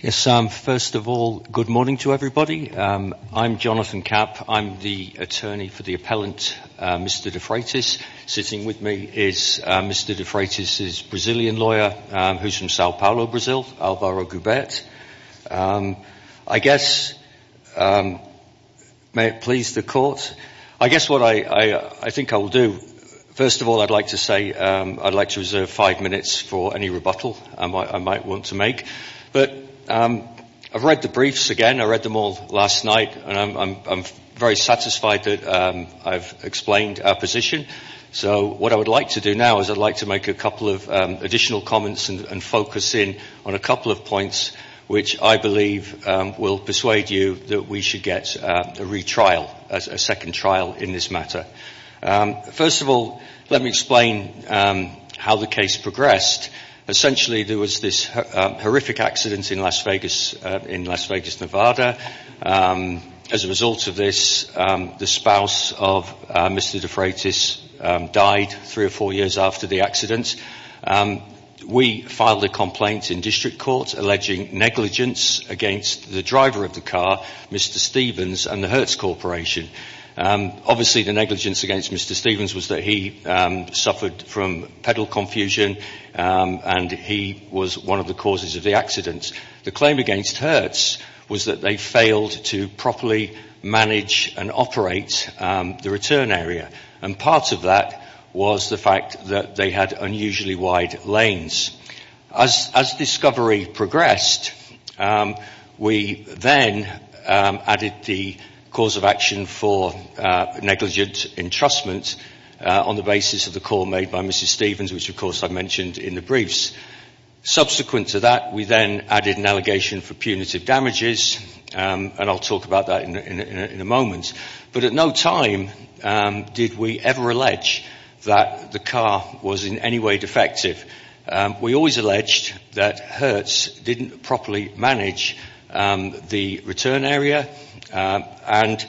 Yes, Sam, first of all, good morning to everybody. I'm Jonathan Capp. I'm the attorney for the appellant, Mr. De Freitas. Sitting with me is Mr. De Freitas' Brazilian lawyer, who's from Sao Paulo, Brazil, Alvaro Goubert. I guess, may it please the court, I guess what I think I will do, first of all, I'd like to say I'd like to reserve five minutes for any rebuttal. I might want to make, but I've read the briefs again. I read them all last night, and I'm very satisfied that I've explained our position. So what I would like to do now is I'd like to make a couple of additional comments and focus in on a couple of points, which I believe will persuade you that we should get a retrial, a second trial in this matter. First of all, let me explain how the case progressed. Essentially, there was this horrific accident in Las Vegas, Nevada. As a result of this, the spouse of Mr. De Freitas died three or four years after the accident. We filed a complaint in district court alleging negligence against the driver of the car, Mr. Stevens, and the Hertz Corporation. Obviously, the negligence against Mr. Stevens was that he suffered from pedal confusion, and he was one of the causes of the accident. The claim against Hertz was that they failed to properly manage and operate the return area, and part of that was the fact that they had unusually wide lanes. As discovery progressed, we then added the cause of action for negligent entrustment on the basis of the call made by Mrs. Stevens, which, of course, I've mentioned in the briefs. Subsequent to that, we then added an allegation for punitive damages, and I'll talk about that in a moment. But at no time did we ever allege that the car was in any way defective. We always alleged that Hertz didn't properly manage the return area, and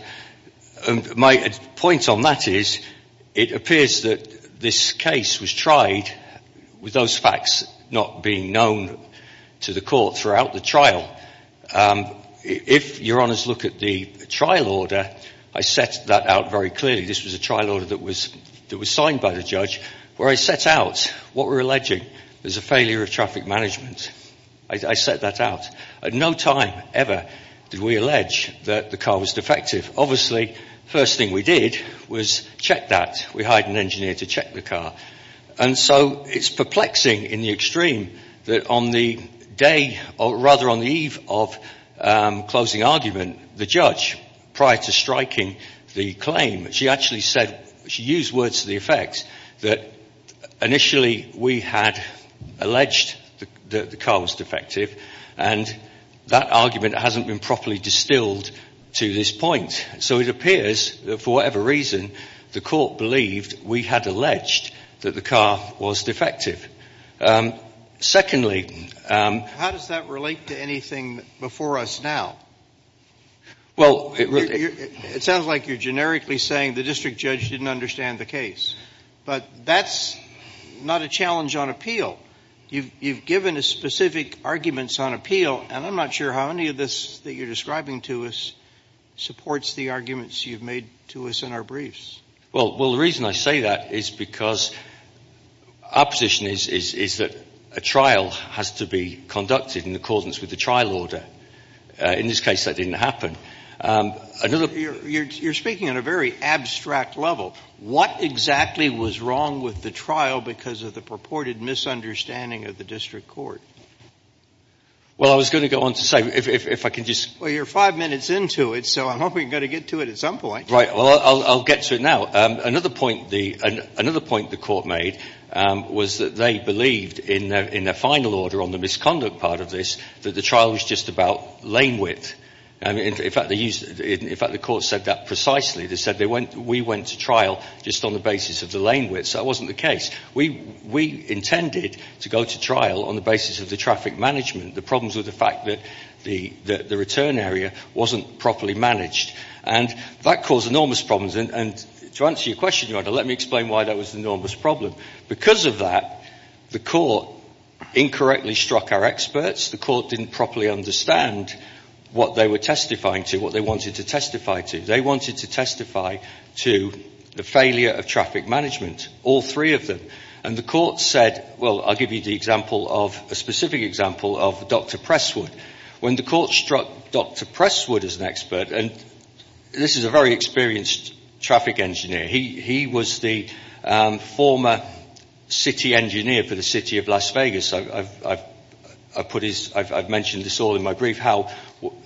my point on that is it appears that this case was tried with those facts not being known to the court throughout the trial. If Your Honours look at the trial order, I set that out very clearly. This was a trial order that was signed by the judge where I set out what we're alleging, there's a failure of traffic management. I set that out. At no time ever did we allege that the car was defective. Obviously, the first thing we did was check that. We hired an engineer to check the car. And so it's perplexing in the extreme that on the day, or rather on the eve of closing argument, the judge, prior to striking the claim, she actually said, she used words to the effect that initially we had alleged that the car was defective, and that argument hasn't been properly distilled to this point. So it appears that for whatever reason, the court believed we had alleged that the car was defective. Secondly... How does that relate to anything before us now? Well... It sounds like you're generically saying the district judge didn't understand the case. But that's not a challenge on appeal. You've given us specific arguments on appeal, and I'm not sure how any of this that you're describing to us supports the arguments you've made to us in our briefs. Well, the reason I say that is because our position is that a trial has to be conducted in accordance with the trial order. In this case, that didn't happen. You're speaking on a very abstract level. What exactly was wrong with the trial because of the purported misunderstanding of the district court? Well, I was going to go on to say, if I can just... Well, you're five minutes into it, so I'm hoping you're going to get to it at some point. Right. Well, I'll get to it now. Another point the court made was that they believed in their final order on the misconduct part of this, that the trial was just about lane width. In fact, the court said that precisely. They said we went to trial just on the basis of the lane width, so that wasn't the case. We intended to go to trial on the basis of the traffic management. The problems were the fact that the return area wasn't properly managed. And that caused enormous problems. And to answer your question, Your Honor, let me explain why that was an enormous problem. Because of that, the court incorrectly struck our experts. The court didn't properly understand what they were testifying to, what they wanted to testify to. They wanted to testify to the failure of traffic management, all three of them. And the court said, well, I'll give you the example of, a specific example of Dr. Presswood. When the court struck Dr. Presswood as an expert, and this is a very experienced traffic engineer. He was the former city engineer for the city of Las Vegas. I've mentioned this all in my brief, how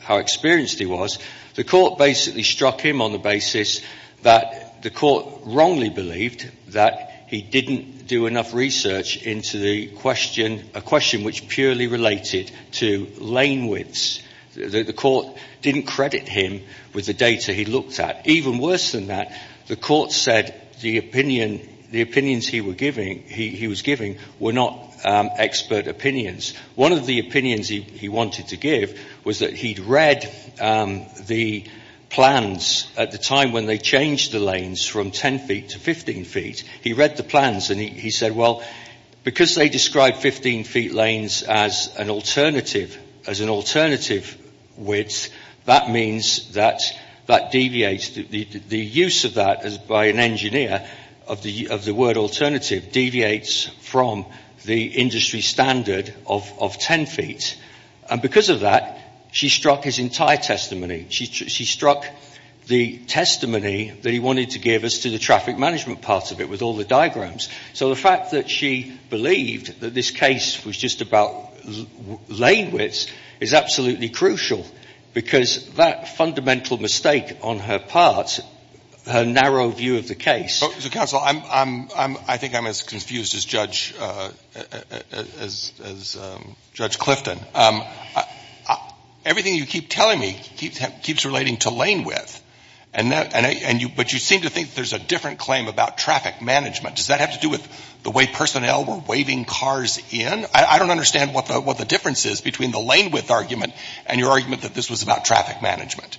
experienced he was. The court basically struck him on the basis that the court wrongly believed that he didn't do enough research into the question, a question which purely related to lane widths. The court didn't credit him with the data he looked at. Even worse than that, the court said the opinions he was giving were not expert opinions. One of the opinions he wanted to give was that he'd read the plans at the time when they changed the lanes from 10 feet to 15 feet. He read the plans and he said, well, because they described 15 feet lanes as an alternative width, that means that that deviates, the use of that by an engineer of the word alternative deviates from the industry standard of 10 feet. And because of that, she struck his entire testimony. She struck the testimony that he wanted to give us to the traffic management part of it with all the diagrams. So the fact that she believed that this case was just about lane widths is absolutely crucial because that fundamental mistake on her part, her narrow view of the case. So counsel, I think I'm as confused as Judge Clifton. Everything you keep telling me keeps relating to lane width, but you seem to think there's a different claim about traffic management. Does that have to do with the way personnel were waving cars in? I don't understand what the difference is between the lane width argument and your argument that this was about traffic management.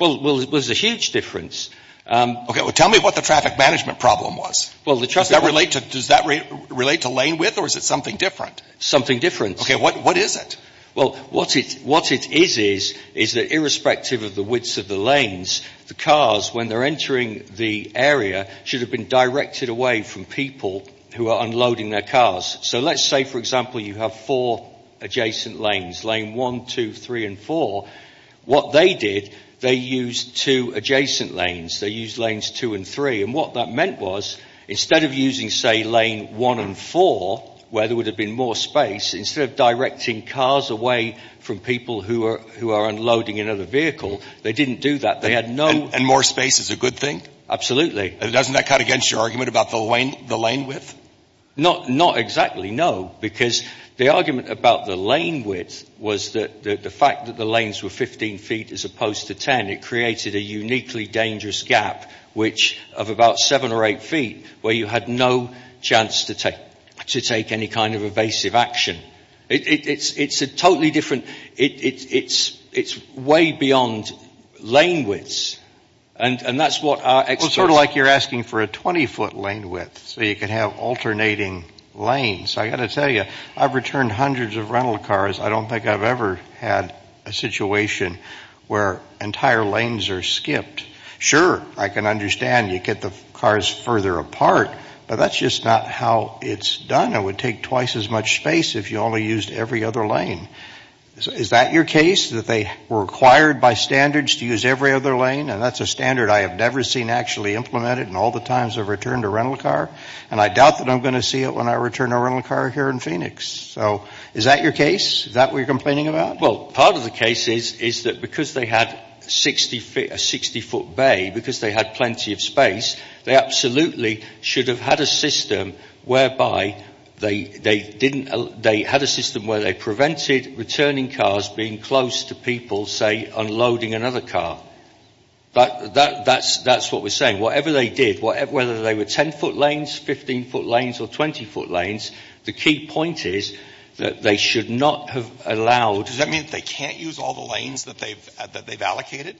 Well, it was a huge difference. Okay. Well, tell me what the traffic management problem was. Does that relate to lane width or is it something different? Something different. Okay. What is it? Well, what it is is that irrespective of the widths of the lanes, the cars, when they're entering the area, should have been directed away from people who are unloading their cars. So let's say, for example, you have four adjacent lanes, lane 1, 2, 3, and 4. What they did, they used two adjacent lanes. They used lanes 2 and 3. And what that meant was instead of using, say, lane 1 and 4, where there would have been more space, instead of directing cars away from people who are unloading another vehicle, they didn't do that. They had no— And more space is a good thing? Absolutely. And doesn't that cut against your argument about the lane width? Not exactly, no. Because the argument about the lane width was that the fact that the lanes were 15 feet as opposed to 10, it created a uniquely dangerous gap, which of about seven or eight feet, where you had no chance to take any kind of evasive action. It's a totally different—it's way beyond lane widths. And that's what our experts— Well, sort of like you're asking for a 20-foot lane width so you can have alternating lanes. I've got to tell you, I've returned hundreds of rental cars. I don't think I've ever had a situation where entire lanes are skipped. Sure, I can understand you get the cars further apart, but that's just not how it's done. It would take twice as much space if you only used every other lane. Is that your case, that they were required by standards to use every other lane? And that's a standard I have never seen actually implemented in all the times I've returned a rental car? And I doubt that I'm going to see it when I return a rental car here in Phoenix. So is that your case? Is that what you're complaining about? Well, part of the case is that because they had a 60-foot bay, because they had plenty of space, they absolutely should have had a system whereby they didn't— they had a system where they prevented returning cars being close to people, say, unloading another car. That's what we're saying. Whatever they did, whether they were 10-foot lanes, 15-foot lanes, or 20-foot lanes, the key point is that they should not have allowed— Does that mean that they can't use all the lanes that they've allocated?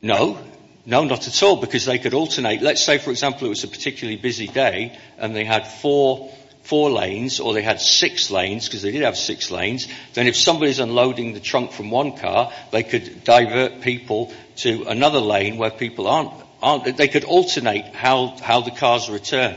No. No, not at all, because they could alternate. Let's say, for example, it was a particularly busy day, and they had four lanes, or they had six lanes, because they did have six lanes, then if somebody's unloading the trunk from one car, they could divert people to another lane where people aren't— they could alternate how the cars return.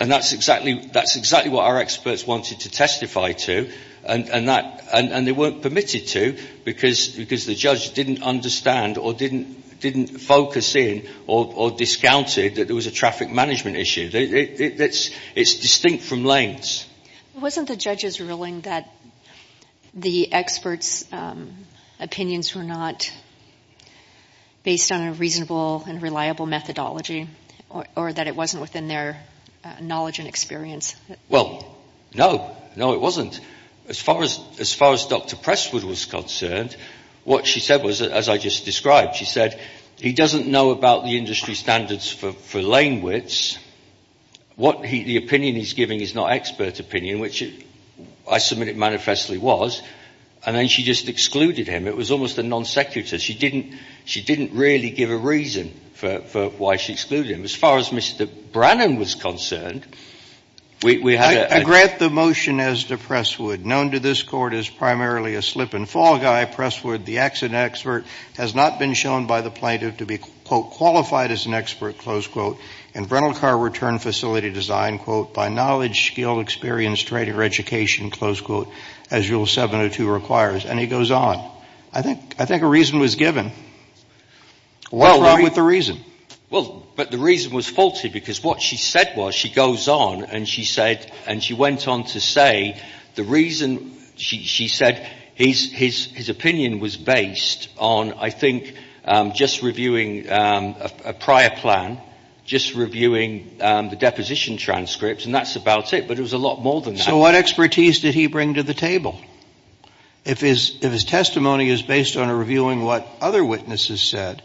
And that's exactly what our experts wanted to testify to, and they weren't permitted to because the judge didn't understand or didn't focus in or discounted that there was a traffic management issue. It's distinct from lanes. Wasn't the judges ruling that the experts' opinions were not based on a reasonable and reliable methodology, or that it wasn't within their knowledge and experience? Well, no. No, it wasn't. As far as Dr. Presswood was concerned, what she said was, as I just described, she said, he doesn't know about the industry standards for lane widths. What the opinion he's giving is not expert opinion, which I submit it manifestly was, and then she just excluded him. It was almost a non sequitur. She didn't really give a reason for why she excluded him. As far as Mr. Brannon was concerned, we had— I grant the motion as to Presswood. Known to this Court as primarily a slip-and-fall guy, Presswood, the accident expert, has not been shown by the plaintiff to be, quote, in rental car return facility design, quote, by knowledge, skill, experience, training, or education, close quote, as Rule 702 requires, and he goes on. I think a reason was given. What's wrong with the reason? Well, but the reason was faulty, because what she said was, she goes on, and she said, and she went on to say, the reason she said his opinion was based on, I think, just reviewing a prior plan, just reviewing the deposition transcript, and that's about it. But it was a lot more than that. So what expertise did he bring to the table? If his testimony is based on a reviewing what other witnesses said,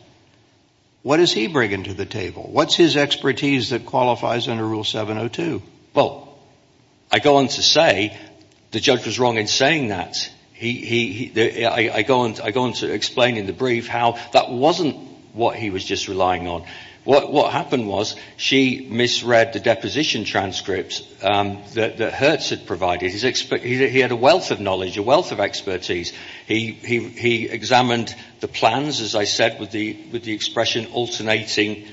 what does he bring into the table? What's his expertise that qualifies under Rule 702? Well, I go on to say, the judge was wrong in saying that. I go on to explain in the brief how that wasn't what he was just relying on. What happened was, she misread the deposition transcript that Hertz had provided. He had a wealth of knowledge, a wealth of expertise. He examined the plans, as I said, with the expression alternating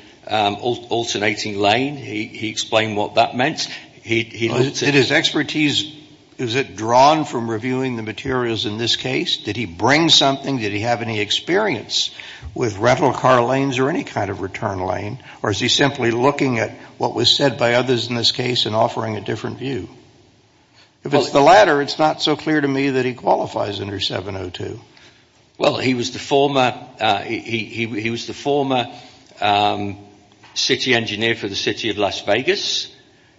lane. He explained what that meant. Did his expertise, is it drawn from reviewing the materials in this case? Did he bring something? Did he have any experience with rental car lanes or any kind of return lane? Or is he simply looking at what was said by others in this case and offering a different view? If it's the latter, it's not so clear to me that he qualifies under 702. Well, he was the former city engineer for the city of Las Vegas.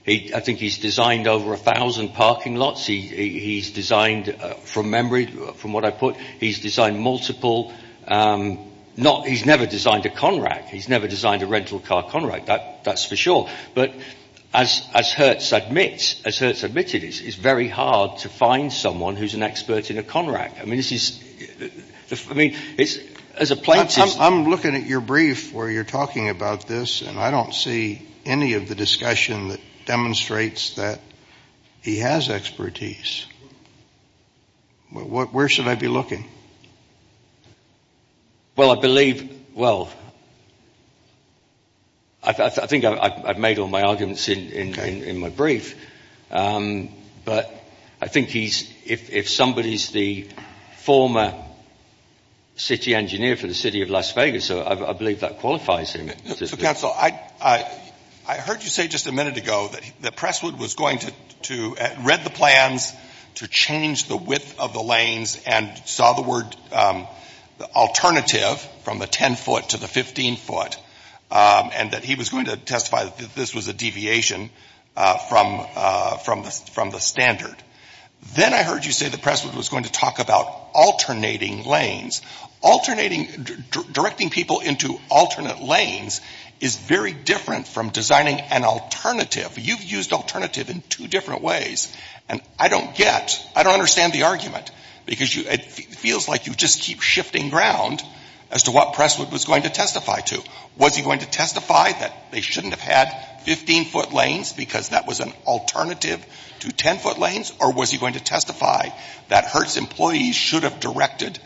I think he's designed over 1,000 parking lots. He's designed, from memory, from what I put, he's designed multiple. He's never designed a Conrack. He's never designed a rental car Conrack. That's for sure. But as Hertz admits, it's very hard to find someone who's an expert in a Conrack. I mean, this is, I mean, as a plaintiff. I'm looking at your brief where you're talking about this, and I don't see any of the discussion that demonstrates that he has expertise. Where should I be looking? Well, I believe, well, I think I've made all my arguments in my brief. But I think he's, if somebody's the former city engineer for the city of Las Vegas, I believe that qualifies him. So, counsel, I heard you say just a minute ago that Presswood was going to read the plans to change the width of the lanes and saw the word alternative from the 10-foot to the 15-foot and that he was going to testify that this was a deviation from the standard. Then I heard you say that Presswood was going to talk about alternating lanes. Alternating, directing people into alternate lanes is very different from designing an alternative. You've used alternative in two different ways, and I don't get, I don't understand the argument, because it feels like you just keep shifting ground as to what Presswood was going to testify to. Was he going to testify that they shouldn't have had 15-foot lanes because that was an alternative to 10-foot lanes, or was he going to testify that Hertz employees should have directed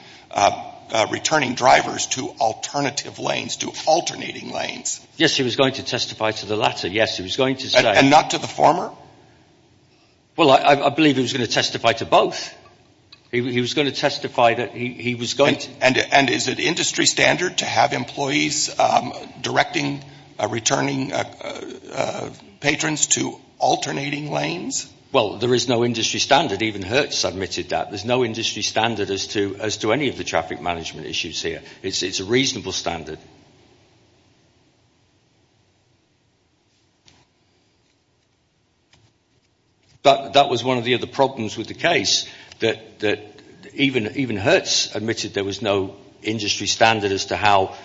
returning drivers to alternative lanes, to alternating lanes? Yes, he was going to testify to the latter. Yes, he was going to say. And not to the former? Well, I believe he was going to testify to both. He was going to testify that he was going to. And is it industry standard to have employees directing returning patrons to alternating lanes? Well, there is no industry standard. Even Hertz admitted that. There's no industry standard as to any of the traffic management issues here. It's a reasonable standard. But that was one of the other problems with the case, that even Hertz admitted there was no industry standard as to how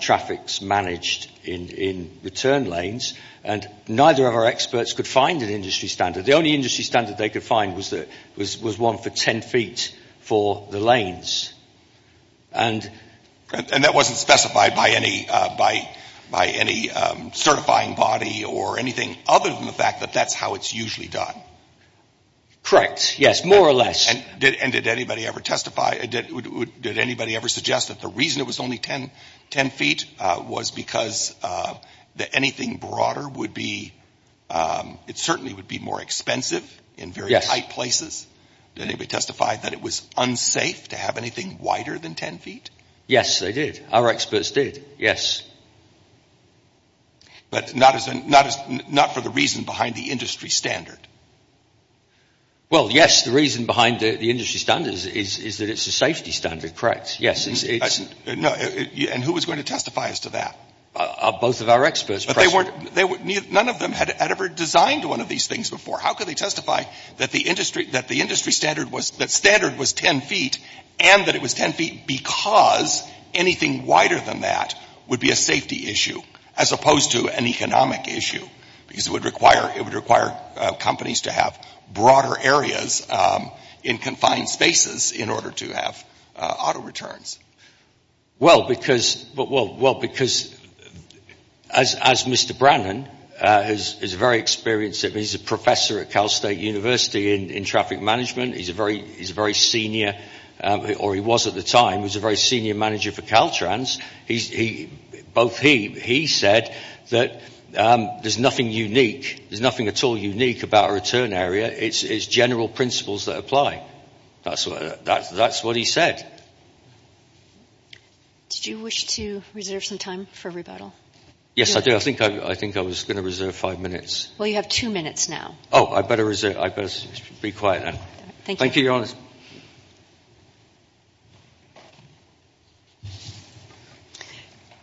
traffic's managed in return lanes. And neither of our experts could find an industry standard. The only industry standard they could find was one for 10 feet for the lanes. And that wasn't specified by any certifying body or anything other than the fact that that's how it's usually done? Correct. Yes, more or less. And did anybody ever suggest that the reason it was only 10 feet was because anything broader would be, it certainly would be more expensive in very tight places? Did anybody testify that it was unsafe to have anything wider than 10 feet? Yes, they did. Our experts did. Yes. But not for the reason behind the industry standard? Well, yes, the reason behind the industry standard is that it's a safety standard. Correct. Yes. And who was going to testify as to that? Both of our experts. But none of them had ever designed one of these things before. How could they testify that the industry standard was 10 feet and that it was 10 feet because anything wider than that would be a safety issue as opposed to an economic issue? Because it would require companies to have broader areas in confined spaces in order to have auto returns. Well, because as Mr. Brannan is a very experienced, he's a professor at Cal State University in traffic management. He's a very senior, or he was at the time, he was a very senior manager for Caltrans. He said that there's nothing unique, there's nothing at all unique about a return area. It's general principles that apply. That's what he said. Did you wish to reserve some time for rebuttal? Yes, I did. I think I was going to reserve five minutes. Well, you have two minutes now. Oh, I better reserve. I better be quiet then. Thank you, Your Honor.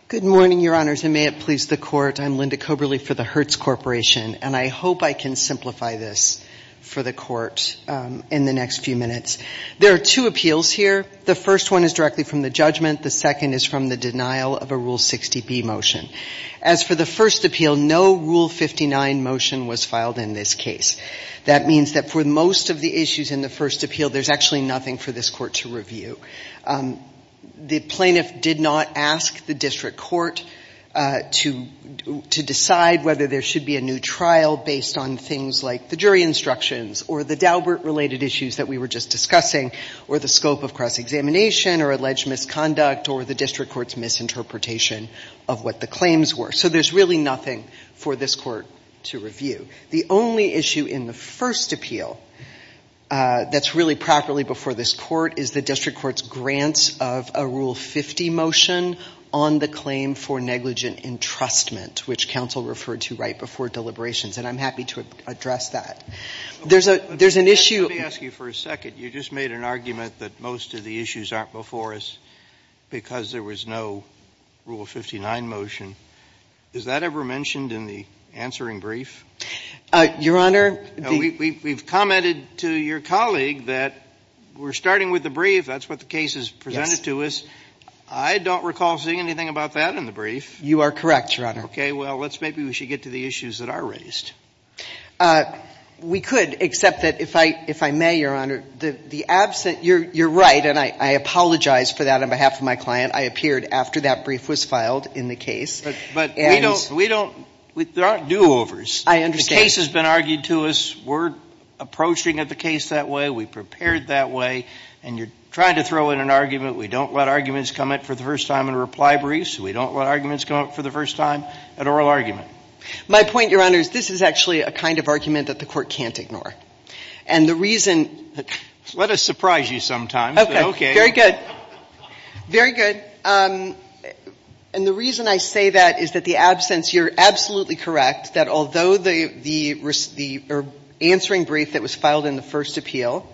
Good morning, Your Honors, and may it please the Court. I'm Linda Coberly for the Hertz Corporation, and I hope I can simplify this for the Court in the next few minutes. There are two appeals here. The first one is directly from the judgment. The second is from the denial of a Rule 60B motion. As for the first appeal, no Rule 59 motion was filed in this case. That means that for most of the issues in the first appeal, there's actually nothing for this Court to review. The plaintiff did not ask the district court to decide whether there should be a new trial based on things like the jury instructions or the Daubert-related issues that we were just discussing or the scope of cross-examination or alleged misconduct or the district court's misinterpretation of what the claims were. So there's really nothing for this court to review. The only issue in the first appeal that's really properly before this court is the district court's grant of a Rule 50 motion on the claim for negligent entrustment, which counsel referred to right before deliberations, and I'm happy to address that. There's an issue. Let me ask you for a second. You just made an argument that most of the issues aren't before us because there was no Rule 59 motion. Is that ever mentioned in the answering brief? Your Honor, the – We've commented to your colleague that we're starting with the brief. That's what the case has presented to us. Yes. I don't recall seeing anything about that in the brief. You are correct, Your Honor. Okay. Well, maybe we should get to the issues that are raised. We could, except that if I may, Your Honor, the absent – you're right, and I apologize for that on behalf of my client. I appeared after that brief was filed in the case. But we don't – there aren't do-overs. I understand. The case has been argued to us. We're approaching the case that way. We prepared that way. And you're trying to throw in an argument. We don't let arguments come up for the first time in reply briefs. We don't let arguments come up for the first time at oral argument. My point, Your Honor, is this is actually a kind of argument that the Court can't ignore. And the reason – Let us surprise you sometimes. Okay. Very good. Very good. And the reason I say that is that the absence – you're absolutely correct that although the answering brief that was filed in the first appeal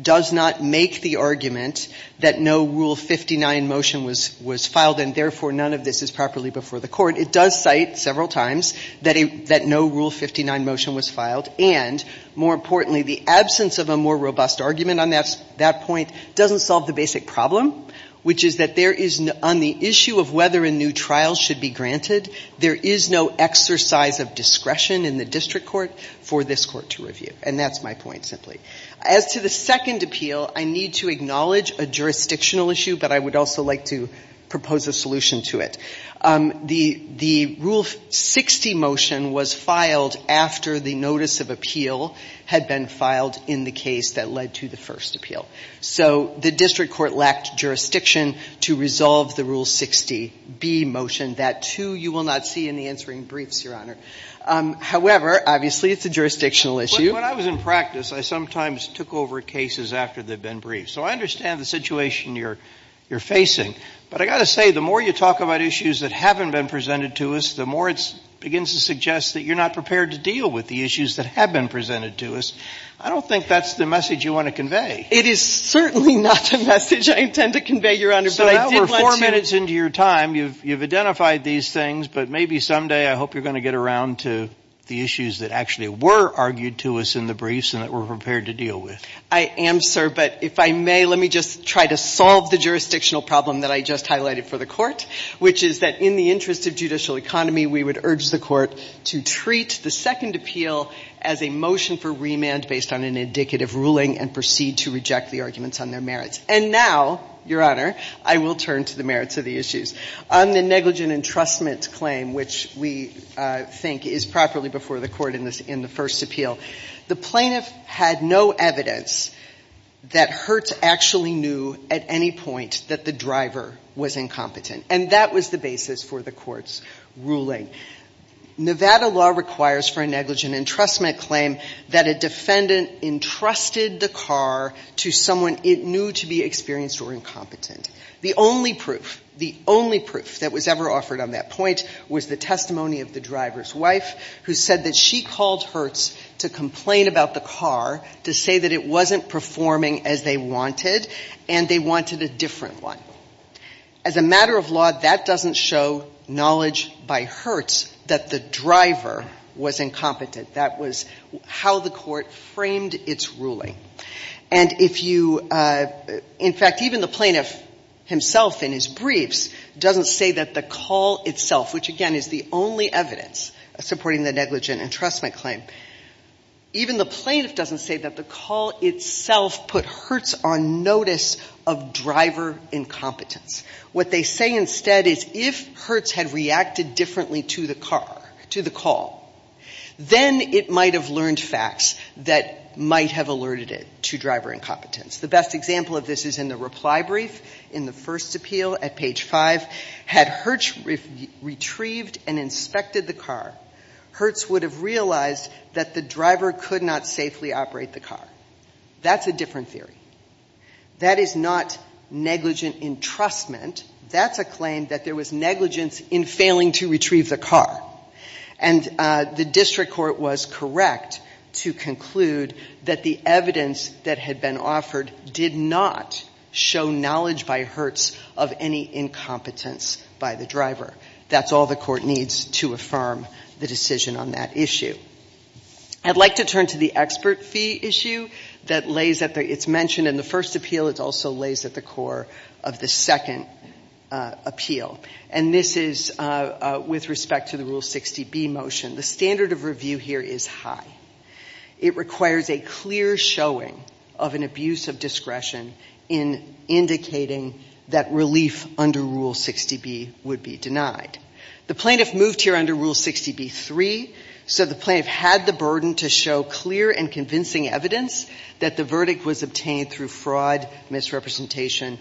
does not make the argument that no Rule 59 motion was filed and therefore none of this is properly before the Court, it does cite several times that no Rule 59 motion was filed. And more importantly, the absence of a more robust argument on that point doesn't solve the basic problem, which is that there is – on the issue of whether a new trial should be granted, there is no exercise of discretion in the district court for this court to review. And that's my point simply. As to the second appeal, I need to acknowledge a jurisdictional issue, but I would also like to propose a solution to it. The Rule 60 motion was filed after the notice of appeal had been filed in the case that led to the first appeal. So the district court lacked jurisdiction to resolve the Rule 60B motion. That, too, you will not see in the answering briefs, Your Honor. However, obviously, it's a jurisdictional issue. When I was in practice, I sometimes took over cases after they've been briefed. So I understand the situation you're facing. But I've got to say, the more you talk about issues that haven't been presented to us, the more it begins to suggest that you're not prepared to deal with the issues that have been presented to us. I don't think that's the message you want to convey. It is certainly not the message I intend to convey, Your Honor. But I did want to – So now we're four minutes into your time. You've identified these things. But maybe someday I hope you're going to get around to the issues that actually were argued to us in the briefs and that we're prepared to deal with. I am, sir. But if I may, let me just try to solve the jurisdictional problem that I just highlighted for the Court, which is that in the interest of judicial economy, we would urge the Court to treat the second appeal as a motion for remand based on an indicative ruling and proceed to reject the arguments on their merits. And now, Your Honor, I will turn to the merits of the issues. On the negligent entrustment claim, which we think is properly before the Court in the first appeal, the plaintiff had no evidence that Hurt actually knew at any point that the driver was incompetent. And that was the basis for the Court's ruling. Nevada law requires for a negligent entrustment claim that a defendant entrusted the car to someone it knew to be experienced or incompetent. The only proof, the only proof that was ever offered on that point was the testimony of the driver's wife, who said that she called Hurts to complain about the car to say that it wasn't performing as they wanted and they wanted a different one. As a matter of law, that doesn't show knowledge by Hurts that the driver was incompetent. That was how the Court framed its ruling. And if you — in fact, even the plaintiff himself in his briefs doesn't say that the call itself, which, again, is the only evidence supporting the negligent entrustment claim, even the plaintiff doesn't say that the call itself put Hurts on notice of driver incompetence. What they say instead is if Hurts had reacted differently to the car, to the call, then it might have learned facts that might have alerted it to driver incompetence. The best example of this is in the reply brief in the first appeal at page 5. In fact, had Hurts retrieved and inspected the car, Hurts would have realized that the driver could not safely operate the car. That's a different theory. That is not negligent entrustment. That's a claim that there was negligence in failing to retrieve the car. And the District Court was correct to conclude that the evidence that had been offered did not show knowledge by Hurts of any incompetence by the driver. That's all the Court needs to affirm the decision on that issue. I'd like to turn to the expert fee issue that lays at the — it's mentioned in the first appeal. It also lays at the core of the second appeal. And this is with respect to the Rule 60B motion. The standard of review here is high. It requires a clear showing of an abuse of discretion in indicating that relief under Rule 60B would be denied. The plaintiff moved here under Rule 60B-3, so the plaintiff had the burden to show clear and convincing evidence that the verdict was obtained through fraud, misrepresentation,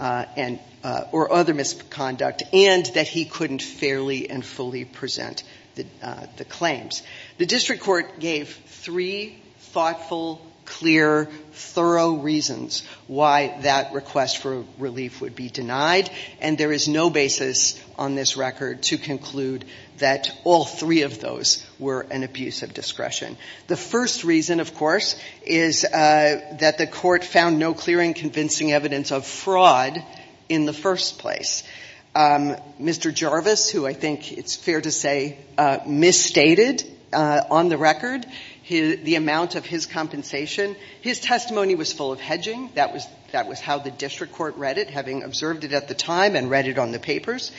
or other misconduct, and that he couldn't fairly and fully present the claims. The District Court gave three thoughtful, clear, thorough reasons why that request for relief would be denied. And there is no basis on this record to conclude that all three of those were an abuse of discretion. The first reason, of course, is that the Court found no clear and convincing evidence of fraud in the first place. Mr. Jarvis, who I think it's fair to say misstated on the record the amount of his compensation, his testimony was full of hedging. That was how the District Court read it, having observed it at the time and read it on the papers.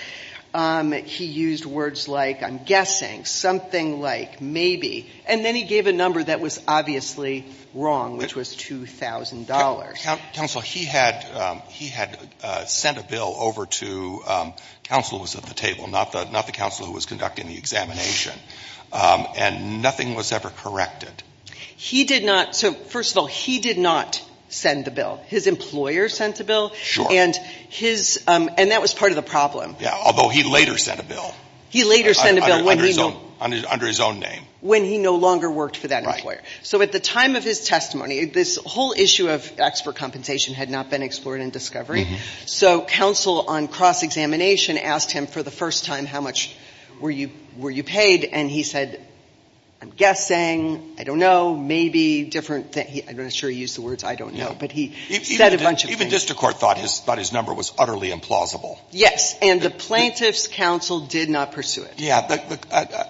He used words like, I'm guessing, something like, maybe. And then he gave a number that was obviously wrong, which was $2,000. Counsel, he had sent a bill over to the counsel who was at the table, not the counsel who was conducting the examination, and nothing was ever corrected. He did not. So, first of all, he did not send the bill. His employer sent the bill. Sure. And that was part of the problem. Yeah, although he later sent a bill. He later sent a bill under his own name. When he no longer worked for that employer. So at the time of his testimony, this whole issue of expert compensation had not been explored in discovery. So counsel on cross-examination asked him for the first time, how much were you paid? And he said, I'm guessing, I don't know, maybe, different. I'm not sure he used the words, I don't know. But he said a bunch of things. Even District Court thought his number was utterly implausible. Yes. And the plaintiff's counsel did not pursue it. Yeah.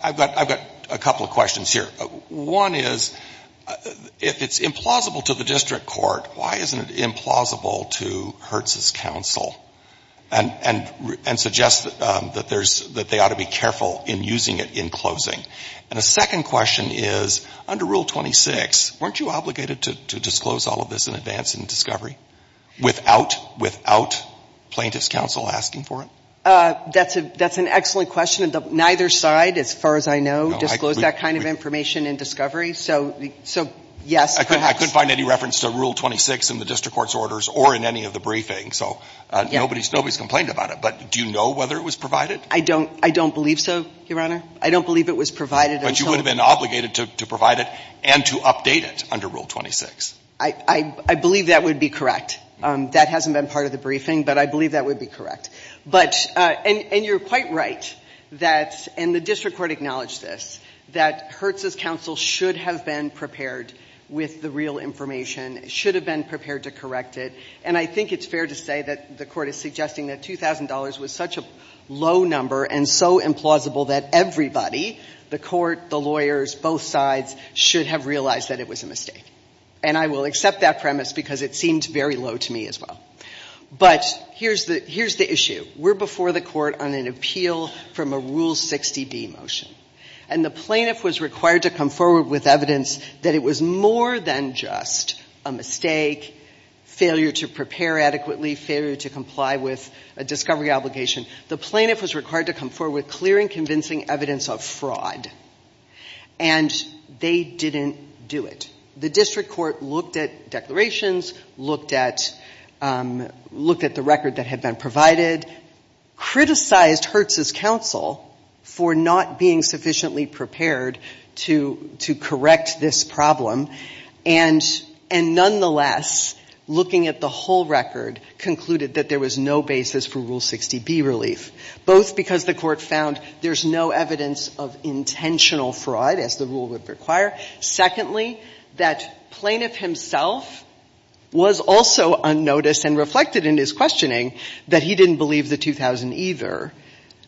I've got a couple of questions here. One is, if it's implausible to the District Court, why isn't it implausible to Hertz's counsel? And suggest that there's, that they ought to be careful in using it in closing. And a second question is, under Rule 26, weren't you obligated to disclose all of this in advance in discovery? Without, without plaintiff's counsel asking for it? That's an excellent question. Neither side, as far as I know, disclosed that kind of information in discovery. So yes, perhaps. I couldn't find any reference to Rule 26 in the District Court's orders or in any of the briefings. So nobody's complained about it. But do you know whether it was provided? I don't believe so, Your Honor. I don't believe it was provided. But you would have been obligated to provide it and to update it under Rule 26. I believe that would be correct. That hasn't been part of the briefing, but I believe that would be correct. But, and you're quite right that, and the District Court acknowledged this, that Hertz's counsel should have been prepared with the real information, should have been prepared to correct it. And I think it's fair to say that the Court is suggesting that $2,000 was such a low number and so implausible that everybody, the Court, the lawyers, both sides, should have realized that it was a mistake. And I will accept that premise because it seemed very low to me as well. But here's the issue. We're before the Court on an appeal from a Rule 60B motion. And the plaintiff was required to come forward with evidence that it was more than just a mistake, failure to prepare adequately, failure to comply with a discovery obligation. The plaintiff was required to come forward with clear and convincing evidence of fraud. And they didn't do it. The District Court looked at declarations, looked at the record that had been provided, criticized Hertz's counsel for not being sufficiently prepared to correct this problem. And nonetheless, looking at the whole record, concluded that there was no basis for Rule 60B relief, both because the Court found there's no evidence of intentional fraud, as the rule would require. Secondly, that plaintiff himself was also unnoticed and reflected in his questioning that he didn't believe the 2,000 either.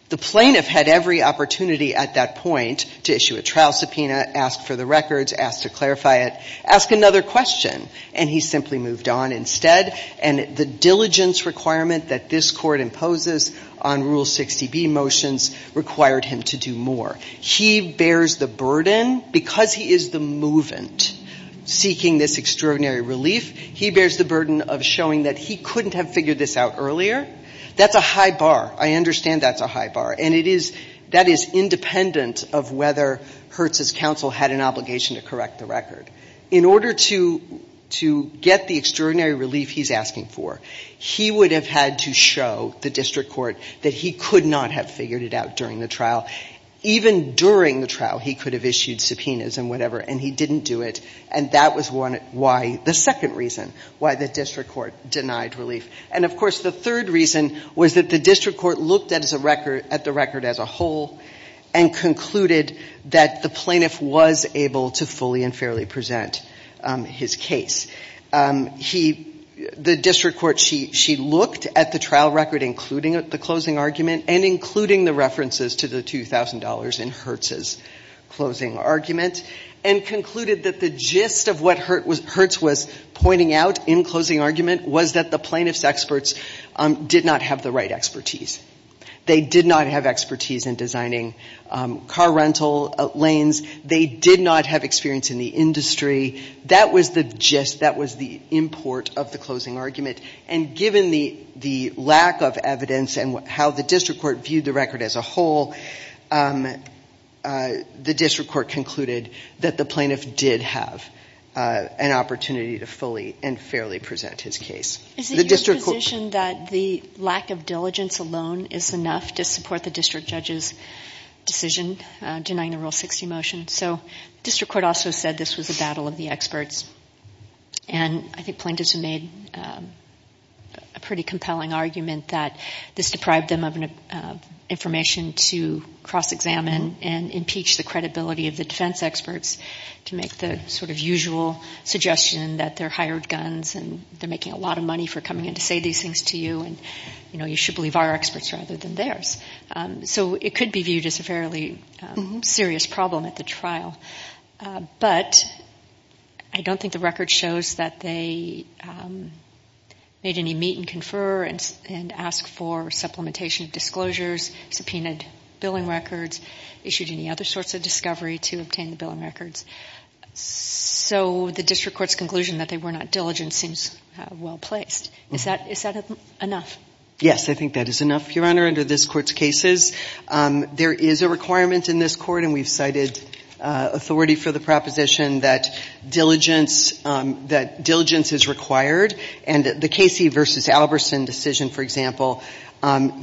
The plaintiff had every opportunity at that point to issue a trial subpoena, ask for the records, ask to clarify it, ask another question. And he simply moved on instead. And the diligence requirement that this Court imposes on Rule 60B motions required him to do more. He bears the burden, because he is the movant seeking this extraordinary relief, he bears the burden of showing that he couldn't have figured this out earlier. That's a high bar. I understand that's a high bar. And it is — that is independent of whether Hertz's counsel had an obligation to correct the record. In order to get the extraordinary relief he's asking for, he would have had to show the District Court that he could not have figured it out during the trial, even during the trial he could have issued subpoenas and whatever, and he didn't do it. And that was one — why — the second reason why the District Court denied relief. And, of course, the third reason was that the District Court looked at the record as a whole and concluded that the plaintiff was able to fully and fairly present his case. He — the District Court, she looked at the trial record, including the closing argument, and including the references to the $2,000 in Hertz's closing argument, and concluded that the gist of what Hertz was pointing out in closing argument was that the plaintiff's experts did not have the right expertise. They did not have expertise in designing car rental lanes. They did not have experience in the industry. That was the gist. That was the import of the closing argument. And given the lack of evidence and how the District Court viewed the record as a whole, the District Court concluded that the plaintiff did have an opportunity to fully and fairly present his case. Is it your position that the lack of diligence alone is enough to support the District Judge's decision denying the Rule 60 motion? So the District Court also said this was a battle of the experts, and I think plaintiffs have made a pretty compelling argument that this deprived them of information to cross-examine and impeach the credibility of the defense experts to make the sort of usual suggestion that they're hired guns and they're making a lot of money for coming in to say these things to you, and, you know, you should believe our experts rather than theirs. So it could be viewed as a fairly serious problem at the trial. But I don't think the record shows that they made any meet and confer and asked for supplementation of disclosures, subpoenaed billing records, issued any other sorts of discovery to obtain the billing records. So the District Court's conclusion that they were not diligent seems well-placed. Is that enough? Yes, I think that is enough, Your Honor, under this Court's cases. There is a requirement in this Court, and we've cited authority for the proposition, that diligence is required, and the Casey v. Albertson decision, for example,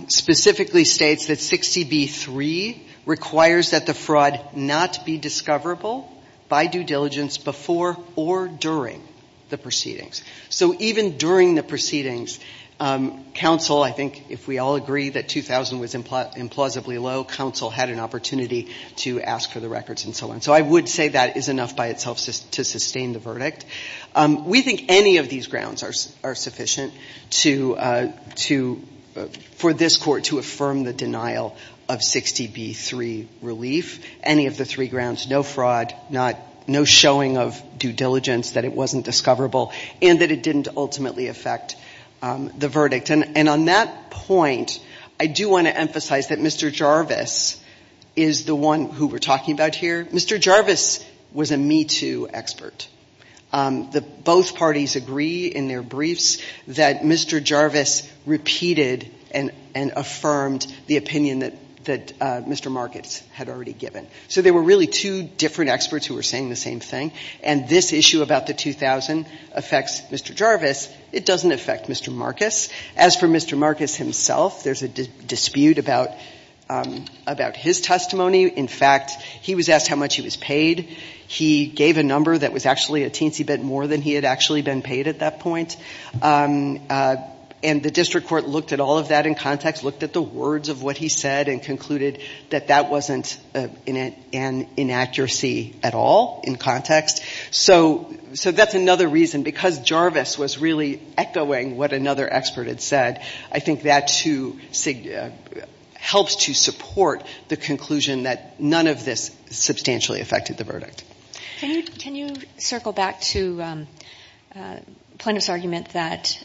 specifically states that 60b-3 requires that the fraud not be discoverable by due diligence before or during the proceedings. So even during the proceedings, counsel, I think, if we all agree that 2000 was implausibly low, counsel had an opportunity to ask for the records and so on. So I would say that is enough by itself to sustain the verdict. We think any of these grounds are sufficient for this Court to affirm the denial of 60b-3 relief, any of the three grounds, no fraud, no showing of due diligence that it wasn't discoverable, and that it didn't ultimately affect the verdict. And on that point, I do want to emphasize that Mr. Jarvis is the one who we're talking about here. Mr. Jarvis was a me-too expert. Both parties agree in their briefs that Mr. Jarvis repeated and affirmed the opinion that Mr. Markits had already given. So there were really two different experts who were saying the same thing, and this issue about the 2000 affects Mr. Jarvis. It doesn't affect Mr. Markits. As for Mr. Markits himself, there's a dispute about his testimony. In fact, he was asked how much he was paid. He gave a number that was actually a teensy bit more than he had actually been paid at that point. And the district court looked at all of that in context, looked at the words of what he said and concluded that that wasn't an inaccuracy at all in context. So that's another reason. Because Jarvis was really echoing what another expert had said, I think that too helps to support the conclusion that none of this substantially affected the verdict. Can you circle back to Plaintiff's argument that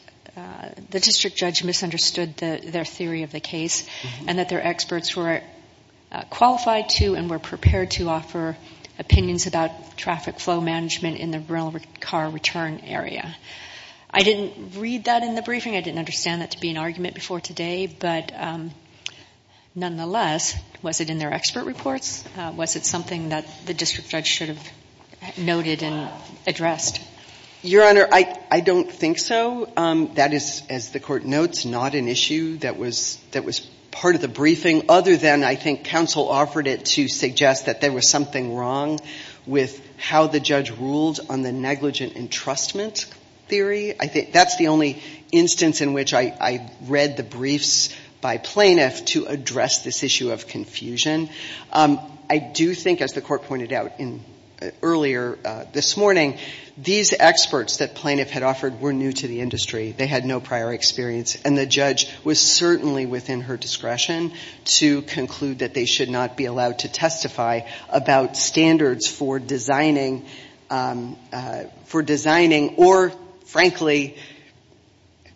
the district judge misunderstood their theory of the case and that their experts were qualified to and were prepared to offer opinions about traffic flow management in the rental car return area? I didn't read that in the briefing. I didn't understand that to be an argument before today. But nonetheless, was it in their expert reports? Was it something that the district judge should have noted and addressed? Your Honor, I don't think so. That is, as the court notes, not an issue that was part of the briefing, other than I think counsel offered it to suggest that there was something wrong with how the judge ruled on the negligent entrustment theory. I think that's the only instance in which I read the briefs by plaintiff to address this issue of confusion. I do think, as the court pointed out earlier this morning, these experts that plaintiff had offered were new to the industry. They had no prior experience. And the judge was certainly within her discretion to conclude that they should not be allowed to testify about standards for designing or, frankly,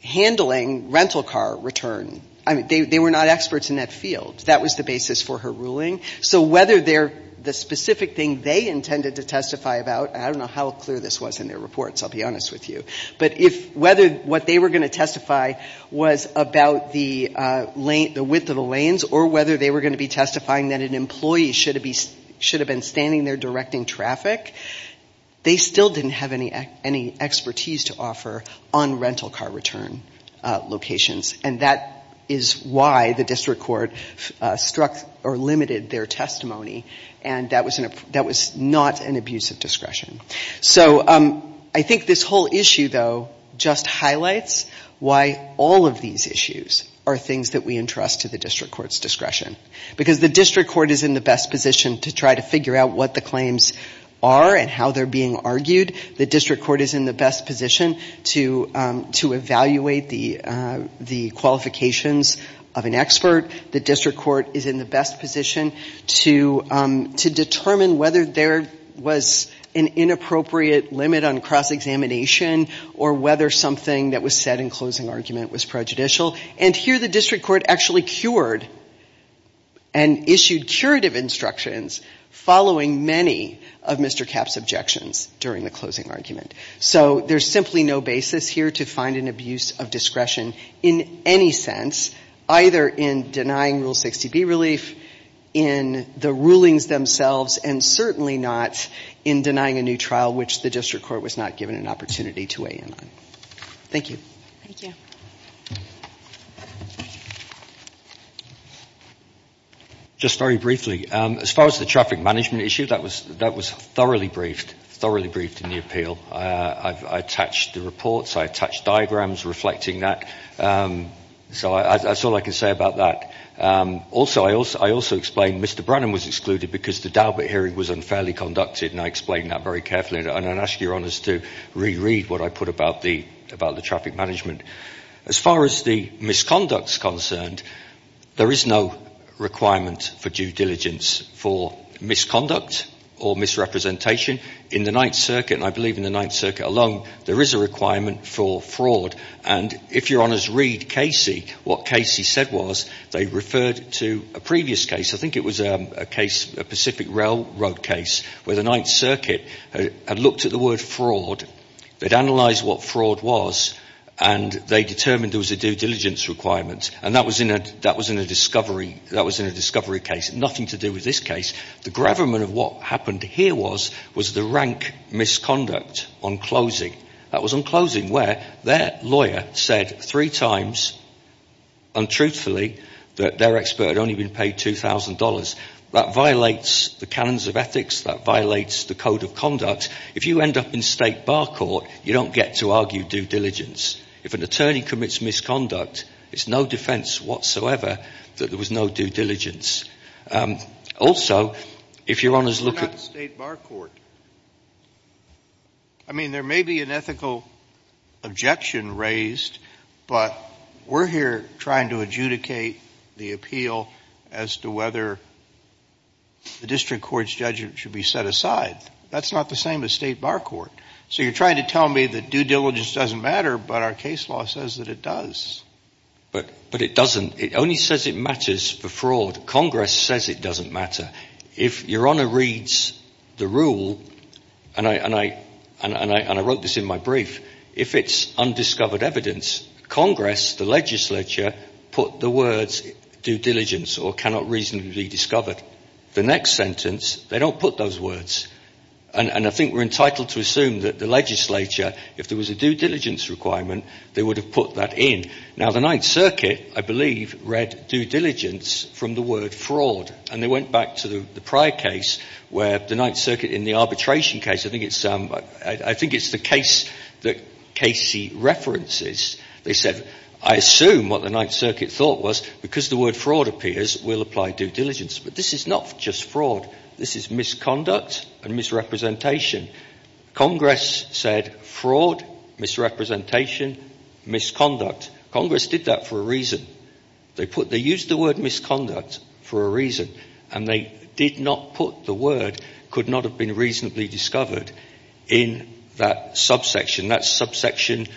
handling rental car return. I mean, they were not experts in that field. That was the basis for her ruling. So whether the specific thing they intended to testify about, I don't know how clear this was in their reports, I'll be honest with you, but whether what they were going to testify was about the width of the lanes or whether they were going to be testifying that an employee should have been standing there directing traffic, they still didn't have any expertise to offer on rental car return locations. And that is why the district court struck or limited their testimony. And that was not an abuse of discretion. So I think this whole issue, though, just highlights why all of these issues are things that we entrust to the district court's discretion. Because the district court is in the best position to try to figure out what the claims are and how they're being argued. The district court is in the best position to evaluate the qualifications of an expert. The district court is in the best position to determine whether there was an inappropriate limit on cross-examination or whether something that was said in closing argument was prejudicial. And here the district court actually cured and issued curative instructions following many of Mr. Capp's objections during the closing argument. So there's simply no basis here to find an abuse of discretion in any sense, either in denying Rule 60B relief, in the rulings themselves, and certainly not in denying a new trial which the district court was not given an opportunity to weigh in on. Thank you. Thank you. Just very briefly, as far as the traffic management issue, that was thoroughly briefed, thoroughly briefed in the appeal. I attached the reports. I attached diagrams reflecting that. So that's all I can say about that. Also, I also explained Mr. Brennan was excluded because the Dalbert hearing was unfairly conducted, and I asked Your Honours to re-read what I put about the traffic management. As far as the misconduct is concerned, there is no requirement for due diligence for misconduct or misrepresentation. In the Ninth Circuit, and I believe in the Ninth Circuit alone, there is a requirement for fraud. And if Your Honours read Casey, what Casey said was they referred to a previous case. I think it was a Pacific Railroad case where the Ninth Circuit had looked at the word fraud. They'd analyzed what fraud was, and they determined there was a due diligence requirement. And that was in a discovery case, nothing to do with this case. The gravamen of what happened here was the rank misconduct on closing. That was on closing where their lawyer said three times, untruthfully, that their expert had only been paid $2,000. That violates the canons of ethics. That violates the code of conduct. If you end up in State Bar Court, you don't get to argue due diligence. If an attorney commits misconduct, it's no defense whatsoever that there was no due diligence. Also, if Your Honours look at the State Bar Court, I mean, there may be an ethical objection raised, but we're here trying to adjudicate the appeal as to whether the district court's judgment should be set aside. That's not the same as State Bar Court. So you're trying to tell me that due diligence doesn't matter, but our case law says that it does. But it doesn't. It only says it matters for fraud. Congress says it doesn't matter. If Your Honour reads the rule, and I wrote this in my brief, if it's undiscovered evidence, Congress, the legislature, put the words due diligence or cannot reasonably be discovered. The next sentence, they don't put those words. And I think we're entitled to assume that the legislature, if there was a due diligence requirement, they would have put that in. Now, the Ninth Circuit, I believe, read due diligence from the word fraud. And they went back to the prior case where the Ninth Circuit, in the arbitration case, I think it's the case that Casey references, they said, I assume what the Ninth Circuit thought was because the word fraud appears, we'll apply due diligence. But this is not just fraud. This is misconduct and misrepresentation. Congress said fraud, misrepresentation, misconduct. Congress did that for a reason. They used the word misconduct for a reason. And they did not put the word could not have been reasonably discovered in that subsection. That's subsection,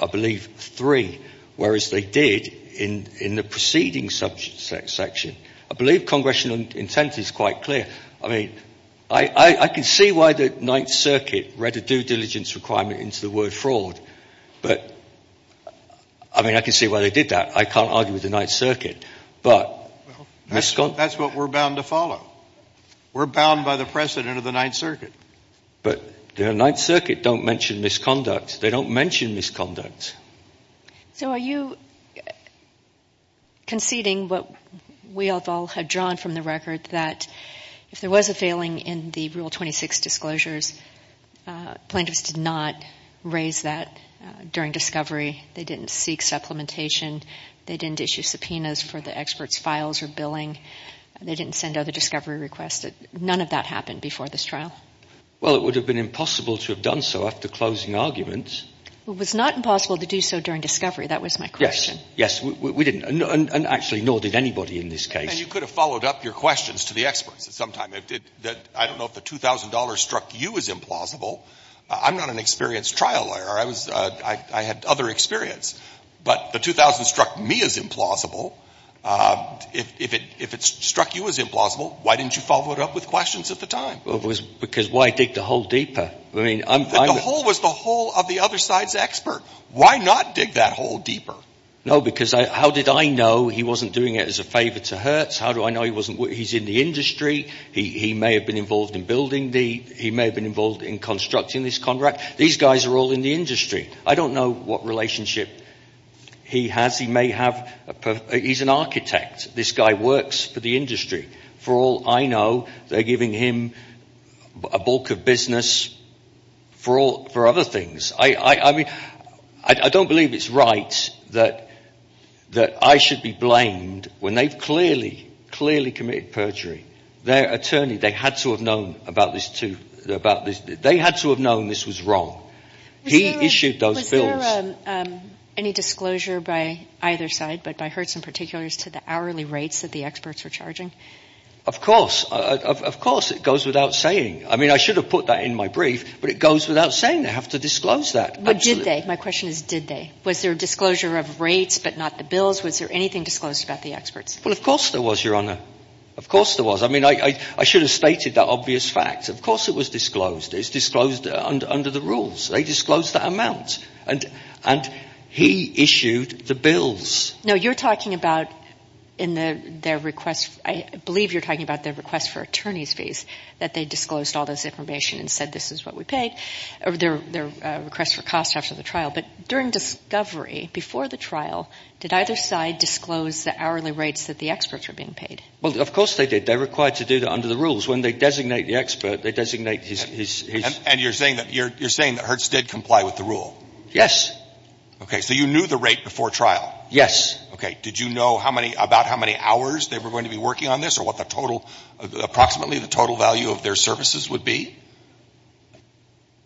I believe, three. Whereas they did in the preceding subsection. I believe congressional intent is quite clear. I mean, I can see why the Ninth Circuit read a due diligence requirement into the word fraud. But, I mean, I can see why they did that. I can't argue with the Ninth Circuit, but misconduct. That's what we're bound to follow. We're bound by the precedent of the Ninth Circuit. But the Ninth Circuit don't mention misconduct. They don't mention misconduct. So are you conceding what we all have drawn from the record, that if there was a failing in the Rule 26 disclosures, plaintiffs did not raise that during discovery. They didn't seek supplementation. They didn't issue subpoenas for the expert's files or billing. They didn't send out a discovery request. None of that happened before this trial. Well, it would have been impossible to have done so after closing arguments. It was not impossible to do so during discovery. That was my question. Yes, we didn't. And actually, nor did anybody in this case. And you could have followed up your questions to the experts at some time. I don't know if the $2,000 struck you as implausible. I'm not an experienced trial lawyer. I had other experience. But the $2,000 struck me as implausible. If it struck you as implausible, why didn't you follow it up with questions at the time? Because why dig the hole deeper? The hole was the hole of the other side's expert. Why not dig that hole deeper? No, because how did I know he wasn't doing it as a favor to Hertz? How do I know he's in the industry? He may have been involved in building the — he may have been involved in constructing this contract. These guys are all in the industry. I don't know what relationship he has. He may have — he's an architect. This guy works for the industry. For all I know, they're giving him a bulk of business for other things. I mean, I don't believe it's right that I should be blamed when they've clearly, clearly committed perjury. Their attorney, they had to have known about this to — they had to have known this was wrong. He issued those bills. Was there any disclosure by either side, but by Hertz in particular, as to the hourly rates that the experts were charging? Of course. Of course. It goes without saying. I mean, I should have put that in my brief, but it goes without saying. They have to disclose that. Did they? My question is, did they? Was there a disclosure of rates but not the bills? Was there anything disclosed about the experts? Well, of course there was, Your Honor. Of course there was. I mean, I should have stated that obvious fact. Of course it was disclosed. It's disclosed under the rules. They disclosed that amount, and he issued the bills. No, you're talking about in their request — I believe you're talking about their request for attorney's fees, that they disclosed all this information and said this is what we paid, or their request for cost after the trial. But during discovery, before the trial, did either side disclose the hourly rates that the experts were being paid? Well, of course they did. They were required to do that under the rules. When they designate the expert, they designate his — And you're saying that Hertz did comply with the rule? Yes. Okay. So you knew the rate before trial? Yes. Okay. Did you know how many — about how many hours they were going to be working on this, or what the total — approximately the total value of their services would be?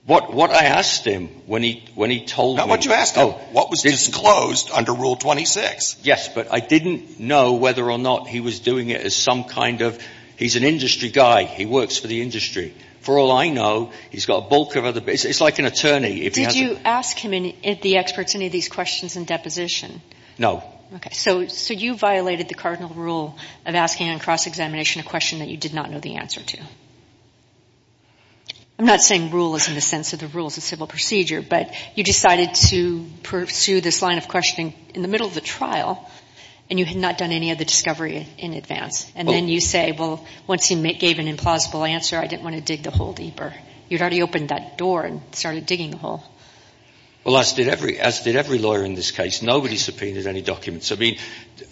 What I asked him when he told me — Not what you asked him. What was disclosed under Rule 26? Yes, but I didn't know whether or not he was doing it as some kind of — he's an industry guy. He works for the industry. For all I know, he's got a bulk of other — it's like an attorney. Did you ask him and the experts any of these questions in deposition? No. Okay. So you violated the cardinal rule of asking on cross-examination a question that you did not know the answer to. I'm not saying rule is in the sense of the rules of civil procedure, but you decided to pursue this line of questioning in the middle of the trial, and you had not done any of the discovery in advance. And then you say, well, once he gave an implausible answer, I didn't want to dig the hole deeper. You'd already opened that door and started digging the hole. Well, as did every lawyer in this case. Nobody subpoenaed any documents. I mean,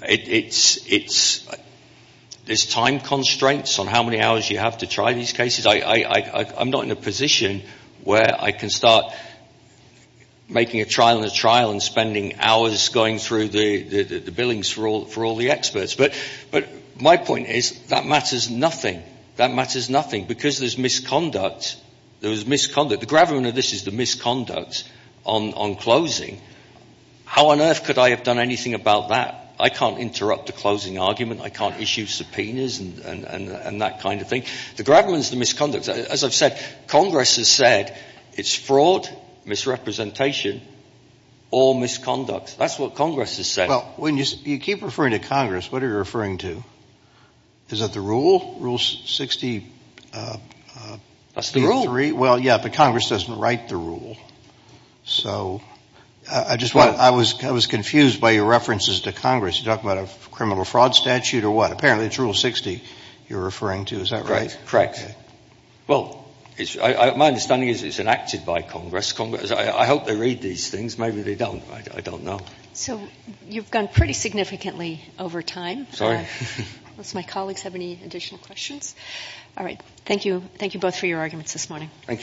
it's — there's time constraints on how many hours you have to try these cases. I'm not in a position where I can start making a trial and a trial and spending hours going through the billings for all the experts. But my point is that matters nothing. That matters nothing. Because there's misconduct. There was misconduct. The gravamen of this is the misconduct on closing. How on earth could I have done anything about that? I can't interrupt a closing argument. I can't issue subpoenas and that kind of thing. The gravamen is the misconduct. As I've said, Congress has said it's fraud, misrepresentation, or misconduct. That's what Congress has said. Well, when you keep referring to Congress, what are you referring to? Is that the rule, Rule 63? That's the rule. Well, yeah, but Congress doesn't write the rule. So I was confused by your references to Congress. You're talking about a criminal fraud statute or what? Apparently it's Rule 60 you're referring to. Is that right? Correct. Well, my understanding is it's enacted by Congress. I hope they read these things. Maybe they don't. I don't know. So you've gone pretty significantly over time. Sorry. Unless my colleagues have any additional questions. All right. Thank you both for your arguments this morning. Thank you. Thank you.